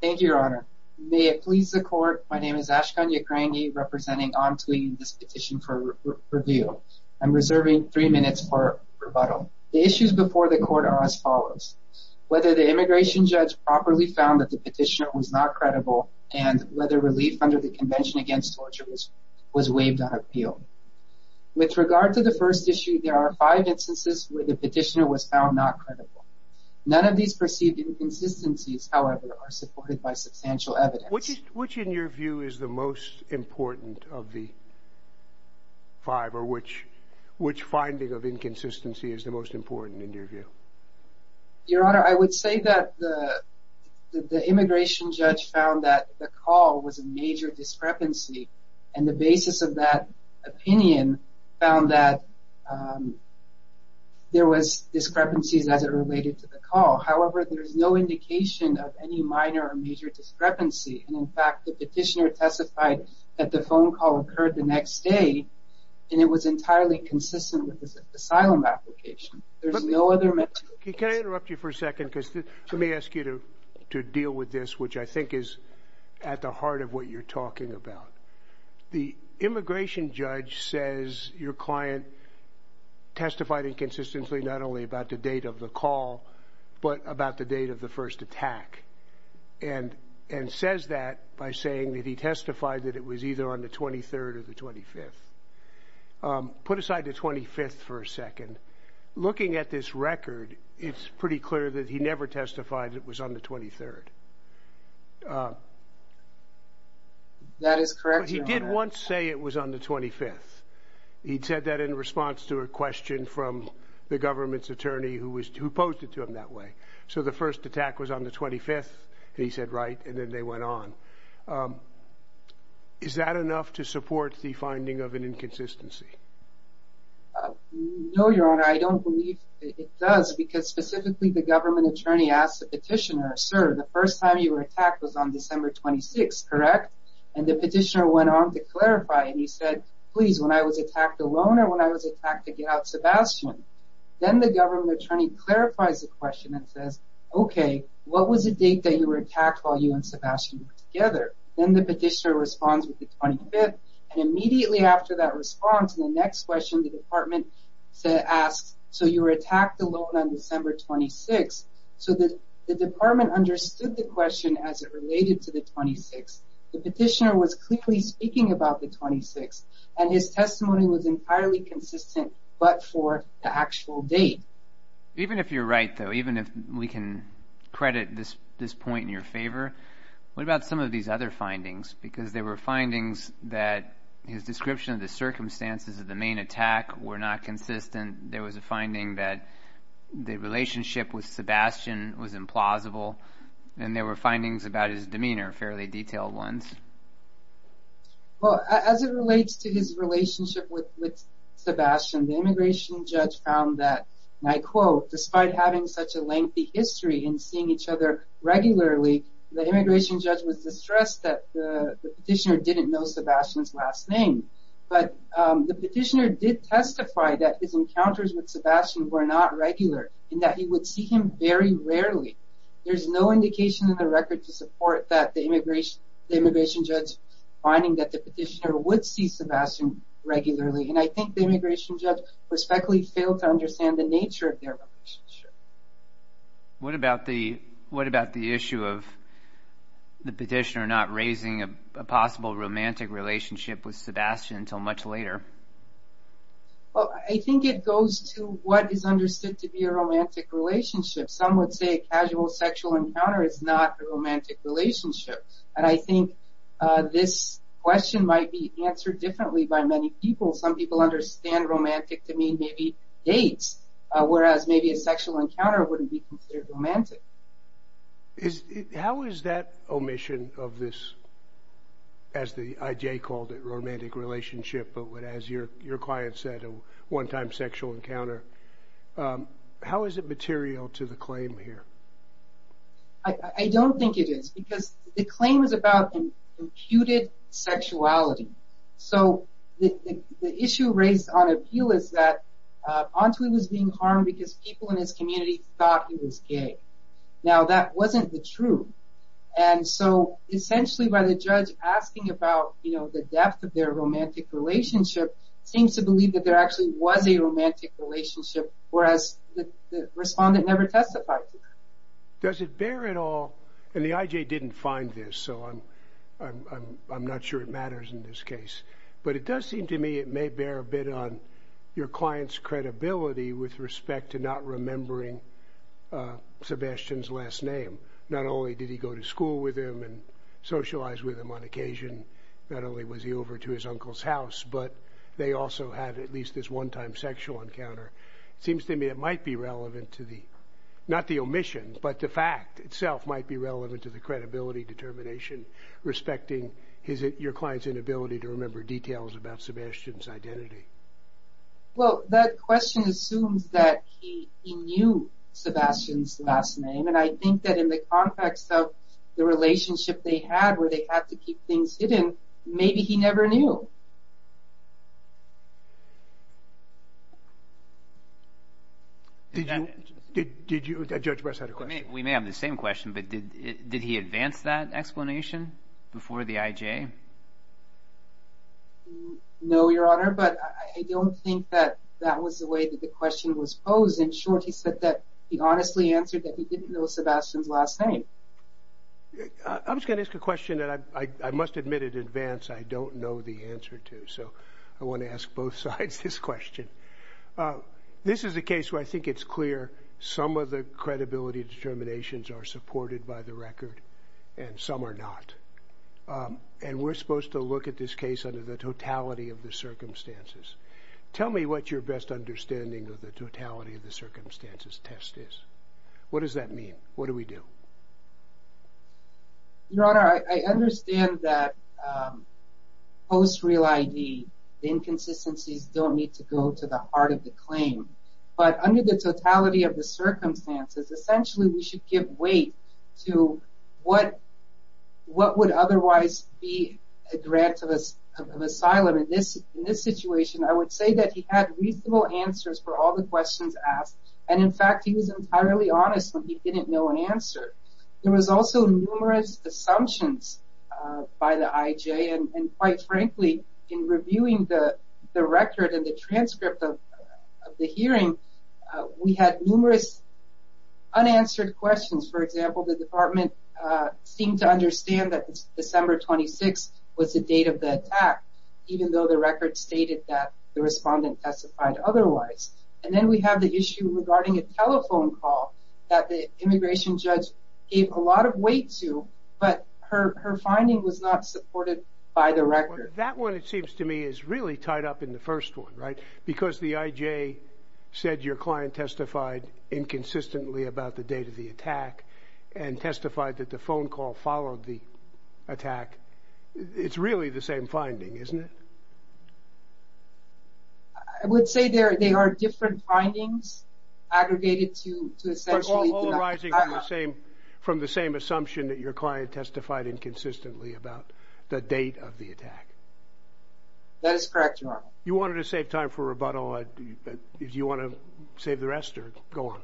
Thank you, Your Honor. May it please the Court, my name is Ashkan Yikrangi, representing Antwi in this petition for review. I'm reserving three minutes for rebuttal. The issues before the Court are as follows. Whether the immigration judge properly found that the petitioner was not credible, and whether relief under the Convention Against Torture was waived on appeal. With regard to the first issue, there are five instances where the petitioner was found not credible. None of these perceived inconsistencies, however, are supported by substantial evidence. Which in your view is the most important of the five, or which finding of inconsistency is the most important in your view? Your Honor, I would say that the immigration judge found that the call was a major discrepancy, and the basis of that opinion found that there were discrepancies as it related to the call. However, there is no indication of any minor or major discrepancy. In fact, the petitioner testified that the phone call occurred the next day, and it was entirely consistent with the asylum application. Can I interrupt you for a second? Let me ask you to deal with this, which I think is at the heart of what you're talking about. The immigration judge says your client testified inconsistently not only about the date of the call, but about the date of the first attack, and says that by saying that he testified that it was either on the 23rd or the 25th. Put aside the 25th for a second. Looking at this record, it's pretty clear that he never testified that it was on the 23rd. That is correct, Your Honor. But he did once say it was on the 25th. He said that in response to a question from the government's attorney who posed it to him that way. So the first attack was on the 25th, and he said right, and then they went on. Is that enough to support the finding of an inconsistency? No, Your Honor. I don't believe it does, because specifically the government attorney asked the petitioner, Sir, the first time you were attacked was on December 26th, correct? And the petitioner went on to clarify, and he said, please, when I was attacked alone or when I was attacked to get out Sebastian? Then the government attorney clarifies the question and says, okay, what was the date that you were attacked while you and Sebastian were together? Then the petitioner responds with the 25th, and immediately after that response, the next question the department asked, so you were attacked alone on December 26th. So the department understood the question as it related to the 26th. The petitioner was clearly speaking about the 26th, and his testimony was entirely consistent but for the actual date. Even if you're right, though, even if we can credit this point in your favor, what about some of these other findings? Because there were findings that his description of the circumstances of the main attack were not consistent. There was a finding that the relationship with Sebastian was implausible, and there were findings about his demeanor, fairly detailed ones. Well, as it relates to his relationship with Sebastian, the immigration judge found that, and I quote, despite having such a lengthy history in seeing each other regularly, the immigration judge was distressed that the petitioner didn't know Sebastian's last name. But the petitioner did testify that his encounters with Sebastian were not regular and that he would see him very rarely. There's no indication in the record to support that the immigration judge finding that the petitioner would see Sebastian regularly, and I think the immigration judge respectfully failed to understand the nature of their relationship. What about the issue of the petitioner not raising a possible romantic relationship with Sebastian until much later? Well, I think it goes to what is understood to be a romantic relationship. Some would say a casual sexual encounter is not a romantic relationship, and I think this question might be answered differently by many people. Some people understand romantic to mean maybe dates, whereas maybe a sexual encounter wouldn't be considered romantic. How is that omission of this, as the IJ called it, romantic relationship, but as your client said, a one-time sexual encounter, how is it material to the claim here? I don't think it is, because the claim is about imputed sexuality. So the issue raised on appeal is that Antuy was being harmed because people in his community thought he was gay. Now, that wasn't the truth, and so essentially by the judge asking about the depth of their romantic relationship, seems to believe that there actually was a romantic relationship, whereas the respondent never testified to that. Does it bear at all, and the IJ didn't find this, so I'm not sure it matters in this case, but it does seem to me it may bear a bit on your client's credibility with respect to not remembering Sebastian's last name. Not only did he go to school with him and socialize with him on occasion, not only was he over to his uncle's house, but they also had at least this one-time sexual encounter. It seems to me it might be relevant to the, not the omission, but the fact itself might be relevant to the credibility determination, respecting your client's inability to remember details about Sebastian's identity. Well, that question assumes that he knew Sebastian's last name, and I think that in the context of the relationship they had where they had to keep things hidden, maybe he never knew. Did you, did Judge Bress have a question? We may have the same question, but did he advance that explanation before the IJ? No, Your Honor, but I don't think that that was the way that the question was posed. In short, he said that he honestly answered that he didn't know Sebastian's last name. I was going to ask a question that I must admit in advance I don't know the answer to, so I want to ask both sides this question. This is a case where I think it's clear some of the credibility determinations are supported by the record and some are not, and we're supposed to look at this case under the totality of the circumstances. Tell me what your best understanding of the totality of the circumstances test is. What does that mean? What do we do? Your Honor, I understand that post-real ID, inconsistencies don't need to go to the heart of the claim, but under the totality of the circumstances, essentially we should give weight to what would otherwise be a grant of asylum. In this situation, I would say that he had reasonable answers for all the questions asked, and in fact he was entirely honest when he didn't know an answer. There was also numerous assumptions by the IJ, and quite frankly, in reviewing the record and the transcript of the hearing, we had numerous unanswered questions. For example, the department seemed to understand that December 26th was the date of the attack, even though the record stated that the respondent testified otherwise. And then we have the issue regarding a telephone call that the immigration judge gave a lot of weight to, but her finding was not supported by the record. That one, it seems to me, is really tied up in the first one, right? Because the IJ said your client testified inconsistently about the date of the attack and testified that the phone call followed the attack, it's really the same finding, isn't it? I would say there are different findings aggregated to essentially... All arising from the same assumption that your client testified inconsistently about the date of the attack. That is correct, Your Honor. You wanted to save time for rebuttal. Do you want to save the rest or go on?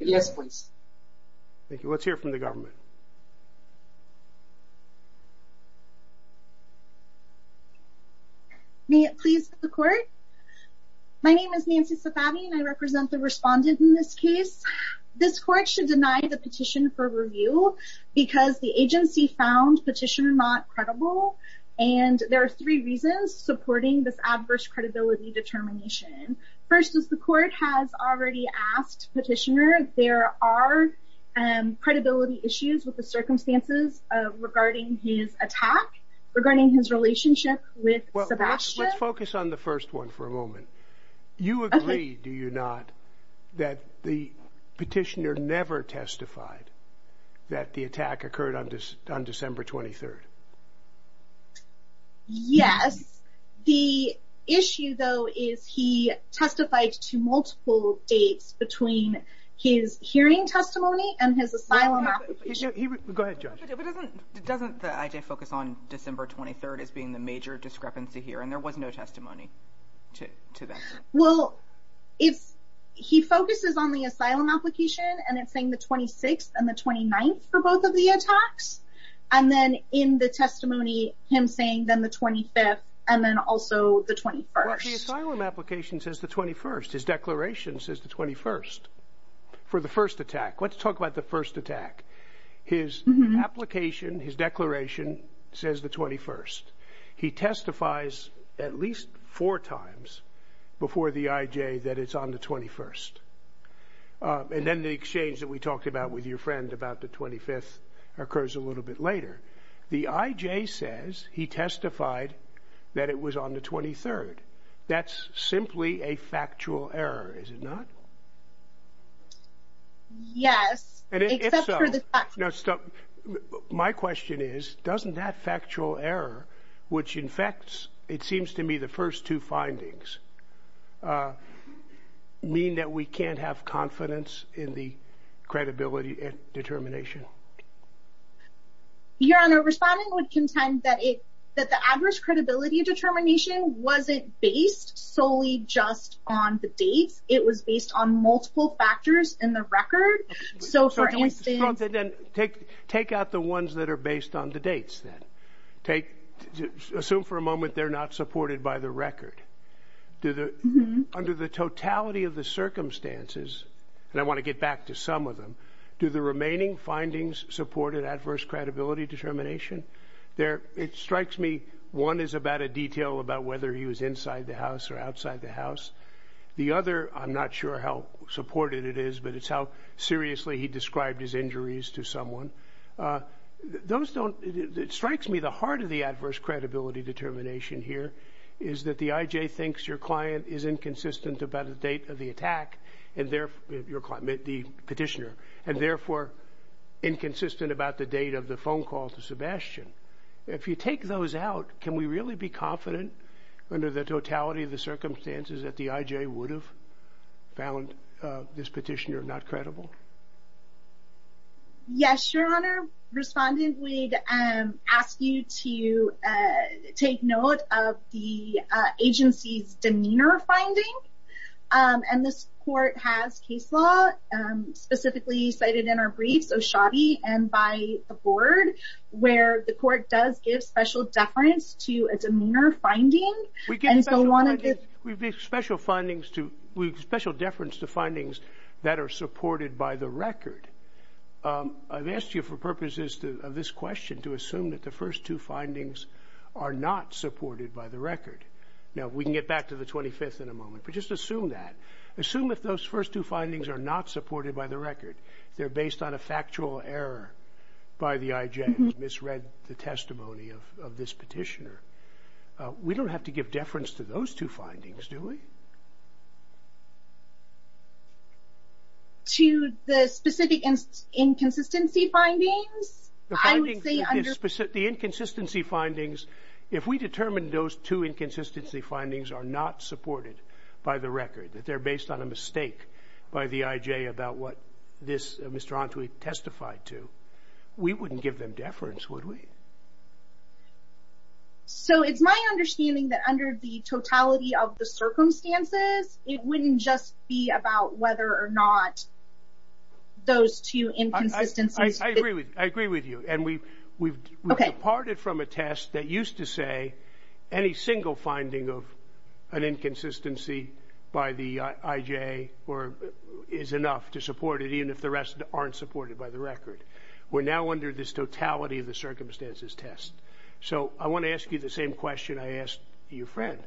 Yes, please. Thank you. Let's hear from the government. May it please the court? My name is Nancy Safavi, and I represent the respondent in this case. This court should deny the petition for review because the agency found petition not credible, and there are three reasons supporting this adverse credibility determination. First, as the court has already asked Petitioner, there are credibility issues with the circumstances regarding his attack, regarding his relationship with Sebastian. Let's focus on the first one for a moment. You agree, do you not, that the petitioner never testified that the attack occurred on December 23rd? Yes. The issue, though, is he testified to multiple dates between his hearing testimony and his asylum application. Go ahead, Judge. Doesn't the IJ focus on December 23rd as being the major discrepancy here, and there was no testimony to that? Well, he focuses on the asylum application, and it's saying the 26th and the 29th for both of the attacks, and then in the testimony him saying then the 25th and then also the 21st. Well, the asylum application says the 21st. His declaration says the 21st for the first attack. Let's talk about the first attack. His application, his declaration, says the 21st. He testifies at least four times before the IJ that it's on the 21st, and then the exchange that we talked about with your friend about the 25th occurs a little bit later. The IJ says he testified that it was on the 23rd. That's simply a factual error, is it not? Yes. If so, my question is, doesn't that factual error, which infects, it seems to me, the first two findings mean that we can't have confidence in the credibility determination? Your Honor, Respondent would contend that the average credibility determination wasn't based solely just on the dates. It was based on multiple factors in the record. Take out the ones that are based on the dates, then. Assume for a moment they're not supported by the record. Under the totality of the circumstances, and I want to get back to some of them, do the remaining findings support an adverse credibility determination? It strikes me one is about a detail about whether he was inside the house or outside the house. The other, I'm not sure how supported it is, but it's how seriously he described his injuries to someone. It strikes me the heart of the adverse credibility determination here is that the IJ thinks your client is inconsistent about the date of the attack, the petitioner, and therefore inconsistent about the date of the phone call to Sebastian. If you take those out, can we really be confident under the totality of the circumstances that the IJ would have found this petitioner not credible? Yes, Your Honor. Respondent, we'd ask you to take note of the agency's demeanor finding. This court has case law specifically cited in our briefs, O'Shaughney and by the board, where the court does give special deference to a demeanor finding. We give special deference to findings that are supported by the record. I've asked you for purposes of this question to assume that the first two findings are not supported by the record. Now, we can get back to the 25th in a moment, but just assume that. Assume that those first two findings are not supported by the record. They're based on a factual error by the IJ who misread the testimony of this petitioner. We don't have to give deference to those two findings, do we? To the specific inconsistency findings? The inconsistency findings, if we determine those two inconsistency findings are not supported by the record, that they're based on a mistake by the IJ about what this Mr. Antwi testified to, we wouldn't give them deference, would we? So it's my understanding that under the totality of the circumstances, it wouldn't just be about whether or not those two inconsistencies. I agree with you. And we've departed from a test that used to say any single finding of an inconsistency by the IJ is enough to support it, even if the rest aren't supported by the record. We're now under this totality of the circumstances test. So I want to ask you the same question I asked your friend.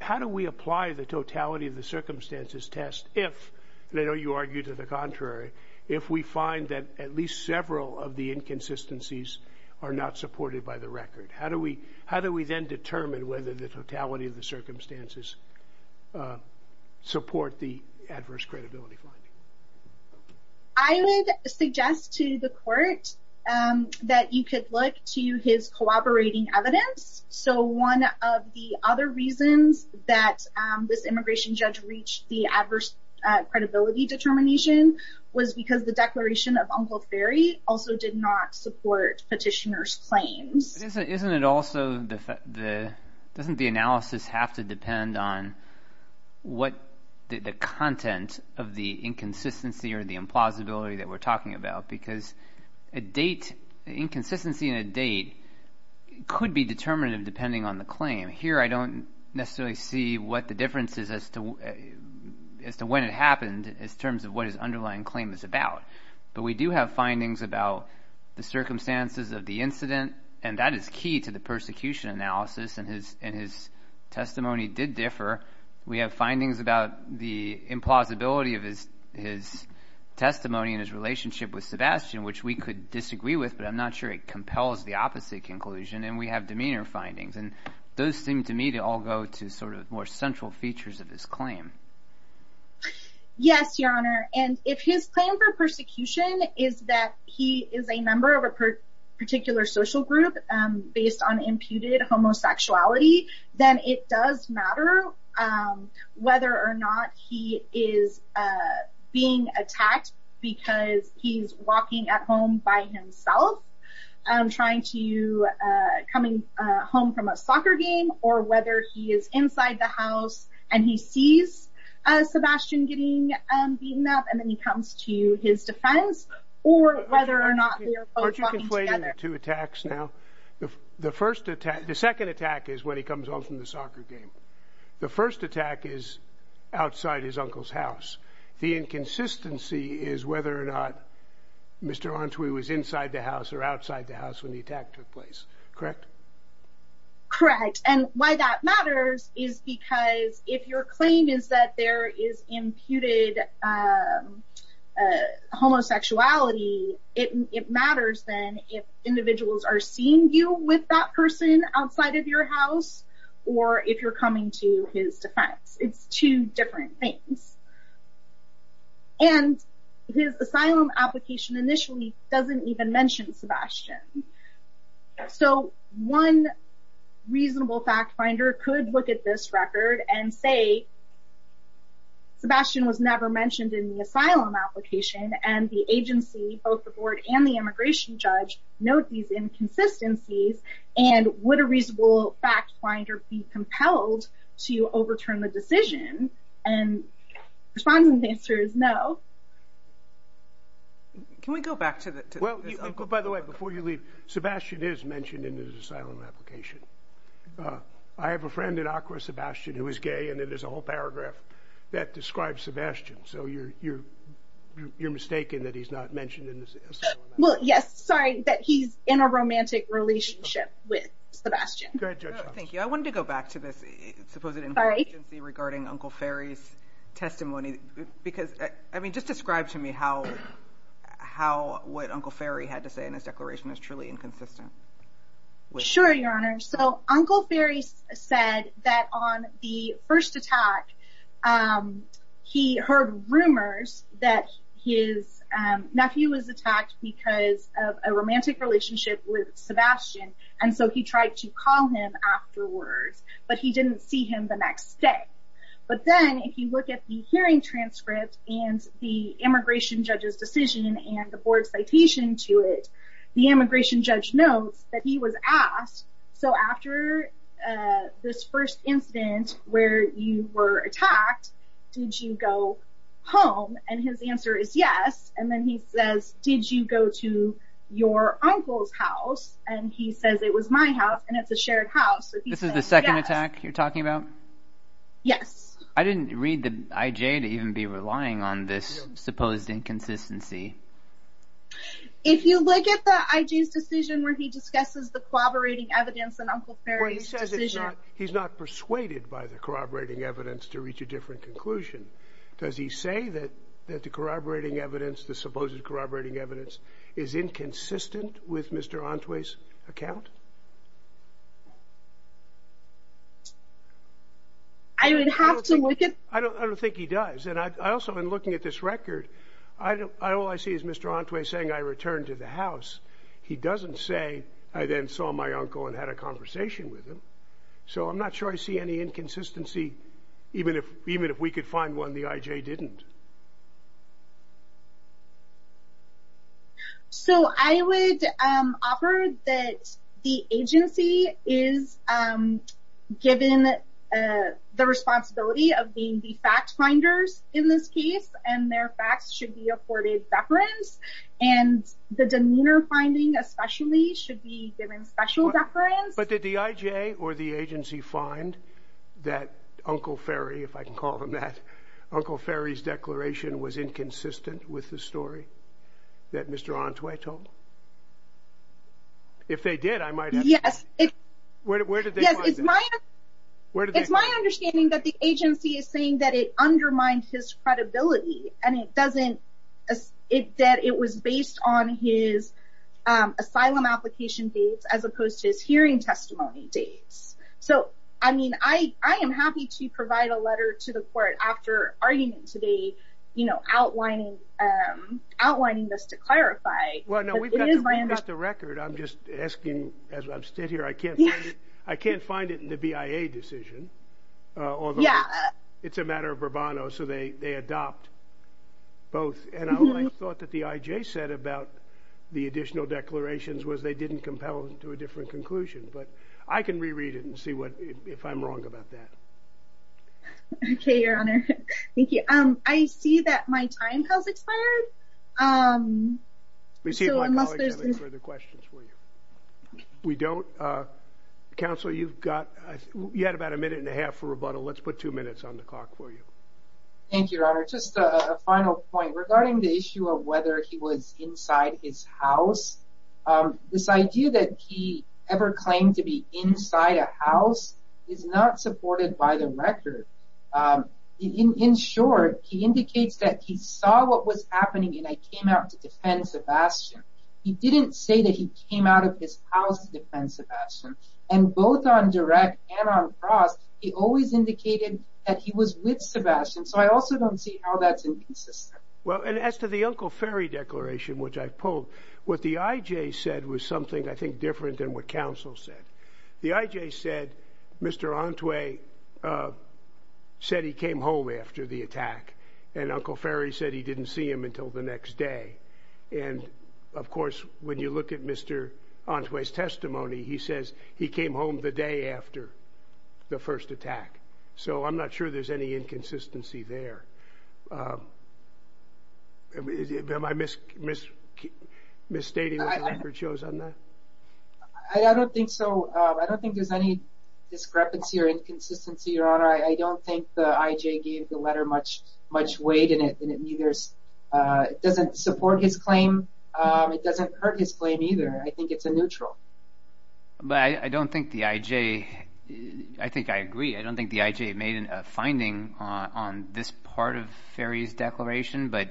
How do we apply the totality of the circumstances test if, and I know you argue to the contrary, if we find that at least several of the inconsistencies are not supported by the record? How do we then determine whether the totality of the circumstances support the adverse credibility finding? I would suggest to the court that you could look to his cooperating evidence. So one of the other reasons that this immigration judge reached the adverse credibility determination was because the declaration of Uncle Ferry also did not support petitioner's claims. Isn't it also, doesn't the analysis have to depend on what the content of the inconsistency or the implausibility that we're talking about? Because a date, inconsistency in a date, could be determinative depending on the claim. Here I don't necessarily see what the difference is as to when it happened in terms of what his underlying claim is about. But we do have findings about the circumstances of the incident, and that is key to the persecution analysis, and his testimony did differ. We have findings about the implausibility of his testimony and his relationship with Sebastian, which we could disagree with, but I'm not sure it compels the opposite conclusion. And we have demeanor findings, and those seem to me to all go to sort of more central features of his claim. Yes, Your Honor, and if his claim for persecution is that he is a member of a particular social group based on imputed homosexuality, then it does matter whether or not he is being attacked because he's walking at home by himself, trying to, coming home from a soccer game, or whether he is inside the house and he sees Sebastian getting beaten up, and then he comes to his defense, or whether or not they are both walking together. Two attacks now. The first attack, the second attack is when he comes home from the soccer game. The first attack is outside his uncle's house. The inconsistency is whether or not Mr. Antwi was inside the house or outside the house when the attack took place. Correct? Correct. And why that matters is because if your claim is that there is imputed homosexuality, it matters then if individuals are seeing you with that person outside of your house, or if you're coming to his defense. It's two different things. And his asylum application initially doesn't even mention Sebastian. So one reasonable fact finder could look at this record and say, Sebastian was never mentioned in the asylum application, and the agency, both the board and the immigration judge, note these inconsistencies, and would a reasonable fact finder be compelled to overturn the decision? And the respondent's answer is no. Can we go back to this? By the way, before you leave, Sebastian is mentioned in his asylum application. I have a friend in Accra, Sebastian, who is gay, and there's a whole paragraph that describes Sebastian. So you're mistaken that he's not mentioned in the asylum application. Well, yes, sorry, that he's in a romantic relationship with Sebastian. Thank you. I wanted to go back to this supposed inconsistency regarding Uncle Ferry's testimony. Because, I mean, just describe to me how what Uncle Ferry had to say in his declaration is truly inconsistent. Sure, Your Honor. So Uncle Ferry said that on the first attack, he heard rumors that his nephew was attacked because of a romantic relationship with Sebastian, and so he tried to call him afterwards, but he didn't see him the next day. But then, if you look at the hearing transcript and the immigration judge's decision and the board's citation to it, the immigration judge notes that he was asked, so after this first incident where you were attacked, did you go home? And his answer is yes. And then he says, did you go to your uncle's house? And he says, it was my house, and it's a shared house. This is the second attack you're talking about? Yes. I didn't read the IJ to even be relying on this supposed inconsistency. If you look at the IJ's decision where he discusses the corroborating evidence and Uncle Ferry's decision... Well, he says he's not persuaded by the corroborating evidence to reach a different conclusion. Does he say that the corroborating evidence, the supposed corroborating evidence, is inconsistent with Mr. Entwee's account? I would have to look at... I don't think he does. I also, in looking at this record, all I see is Mr. Entwee saying, I returned to the house. He doesn't say, I then saw my uncle and had a conversation with him. So I'm not sure I see any inconsistency, even if we could find one the IJ didn't. So I would offer that the agency is given the responsibility of being the fact finders in this case, and their facts should be afforded deference, and the demeanor finding, especially, should be given special deference. But did the IJ or the agency find that Uncle Ferry, if I can call him that, Uncle Ferry's declaration was inconsistent with the story that Mr. Entwee told? If they did, I might have to... Yes. Where did they find this? It's my understanding that the agency is saying that it undermined his credibility, and it doesn't... that it was based on his asylum application dates, as opposed to his hearing testimony dates. So, I mean, I am happy to provide a letter to the court after arguing today, you know, outlining this to clarify. Well, no, we've got to read this to record. I'm just asking, as I'm stood here, I can't find it in the BIA decision. Yeah. It's a matter of bravado, so they adopt both. And I thought that the IJ said about the additional declarations was they didn't compel them to a different conclusion. But I can reread it and see if I'm wrong about that. Okay, Your Honor. Thank you. I see that my time has expired. Let me see if my colleagues have any further questions for you. We don't. Counsel, you've got yet about a minute and a half for rebuttal. Let's put two minutes on the clock for you. Thank you, Your Honor. Just a final point regarding the issue of whether he was inside his house. This idea that he ever claimed to be inside a house is not supported by the record. In short, he indicates that he saw what was happening and came out to defend Sebastian. He didn't say that he came out of his house to defend Sebastian. And both on direct and on cross, he always indicated that he was with Sebastian. So I also don't see how that's inconsistent. Well, and as to the Uncle Ferry Declaration, which I pulled, what the I.J. said was something I think different than what counsel said. The I.J. said Mr. Entwee said he came home after the attack, and Uncle Ferry said he didn't see him until the next day. And, of course, when you look at Mr. Entwee's testimony, he says he came home the day after the first attack. So I'm not sure there's any inconsistency there. Am I misstating what the record shows on that? I don't think so. I don't think there's any discrepancy or inconsistency, Your Honor. I don't think the I.J. gave the letter much weight in it, and it doesn't support his claim. It doesn't hurt his claim either. I think it's a neutral. But I don't think the I.J. I think I agree. I don't think the I.J. made a finding on this part of Ferry's declaration, but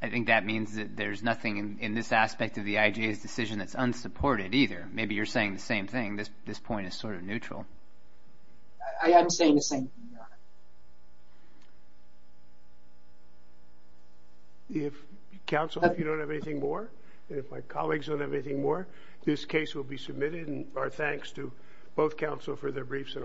I think that means that there's nothing in this aspect of the I.J.'s decision that's unsupported either. Maybe you're saying the same thing. This point is sort of neutral. I am saying the same thing, Your Honor. Counsel, if you don't have anything more, and if my colleagues don't have anything more, this case will be submitted, and our thanks to both counsel for their briefs and arguments.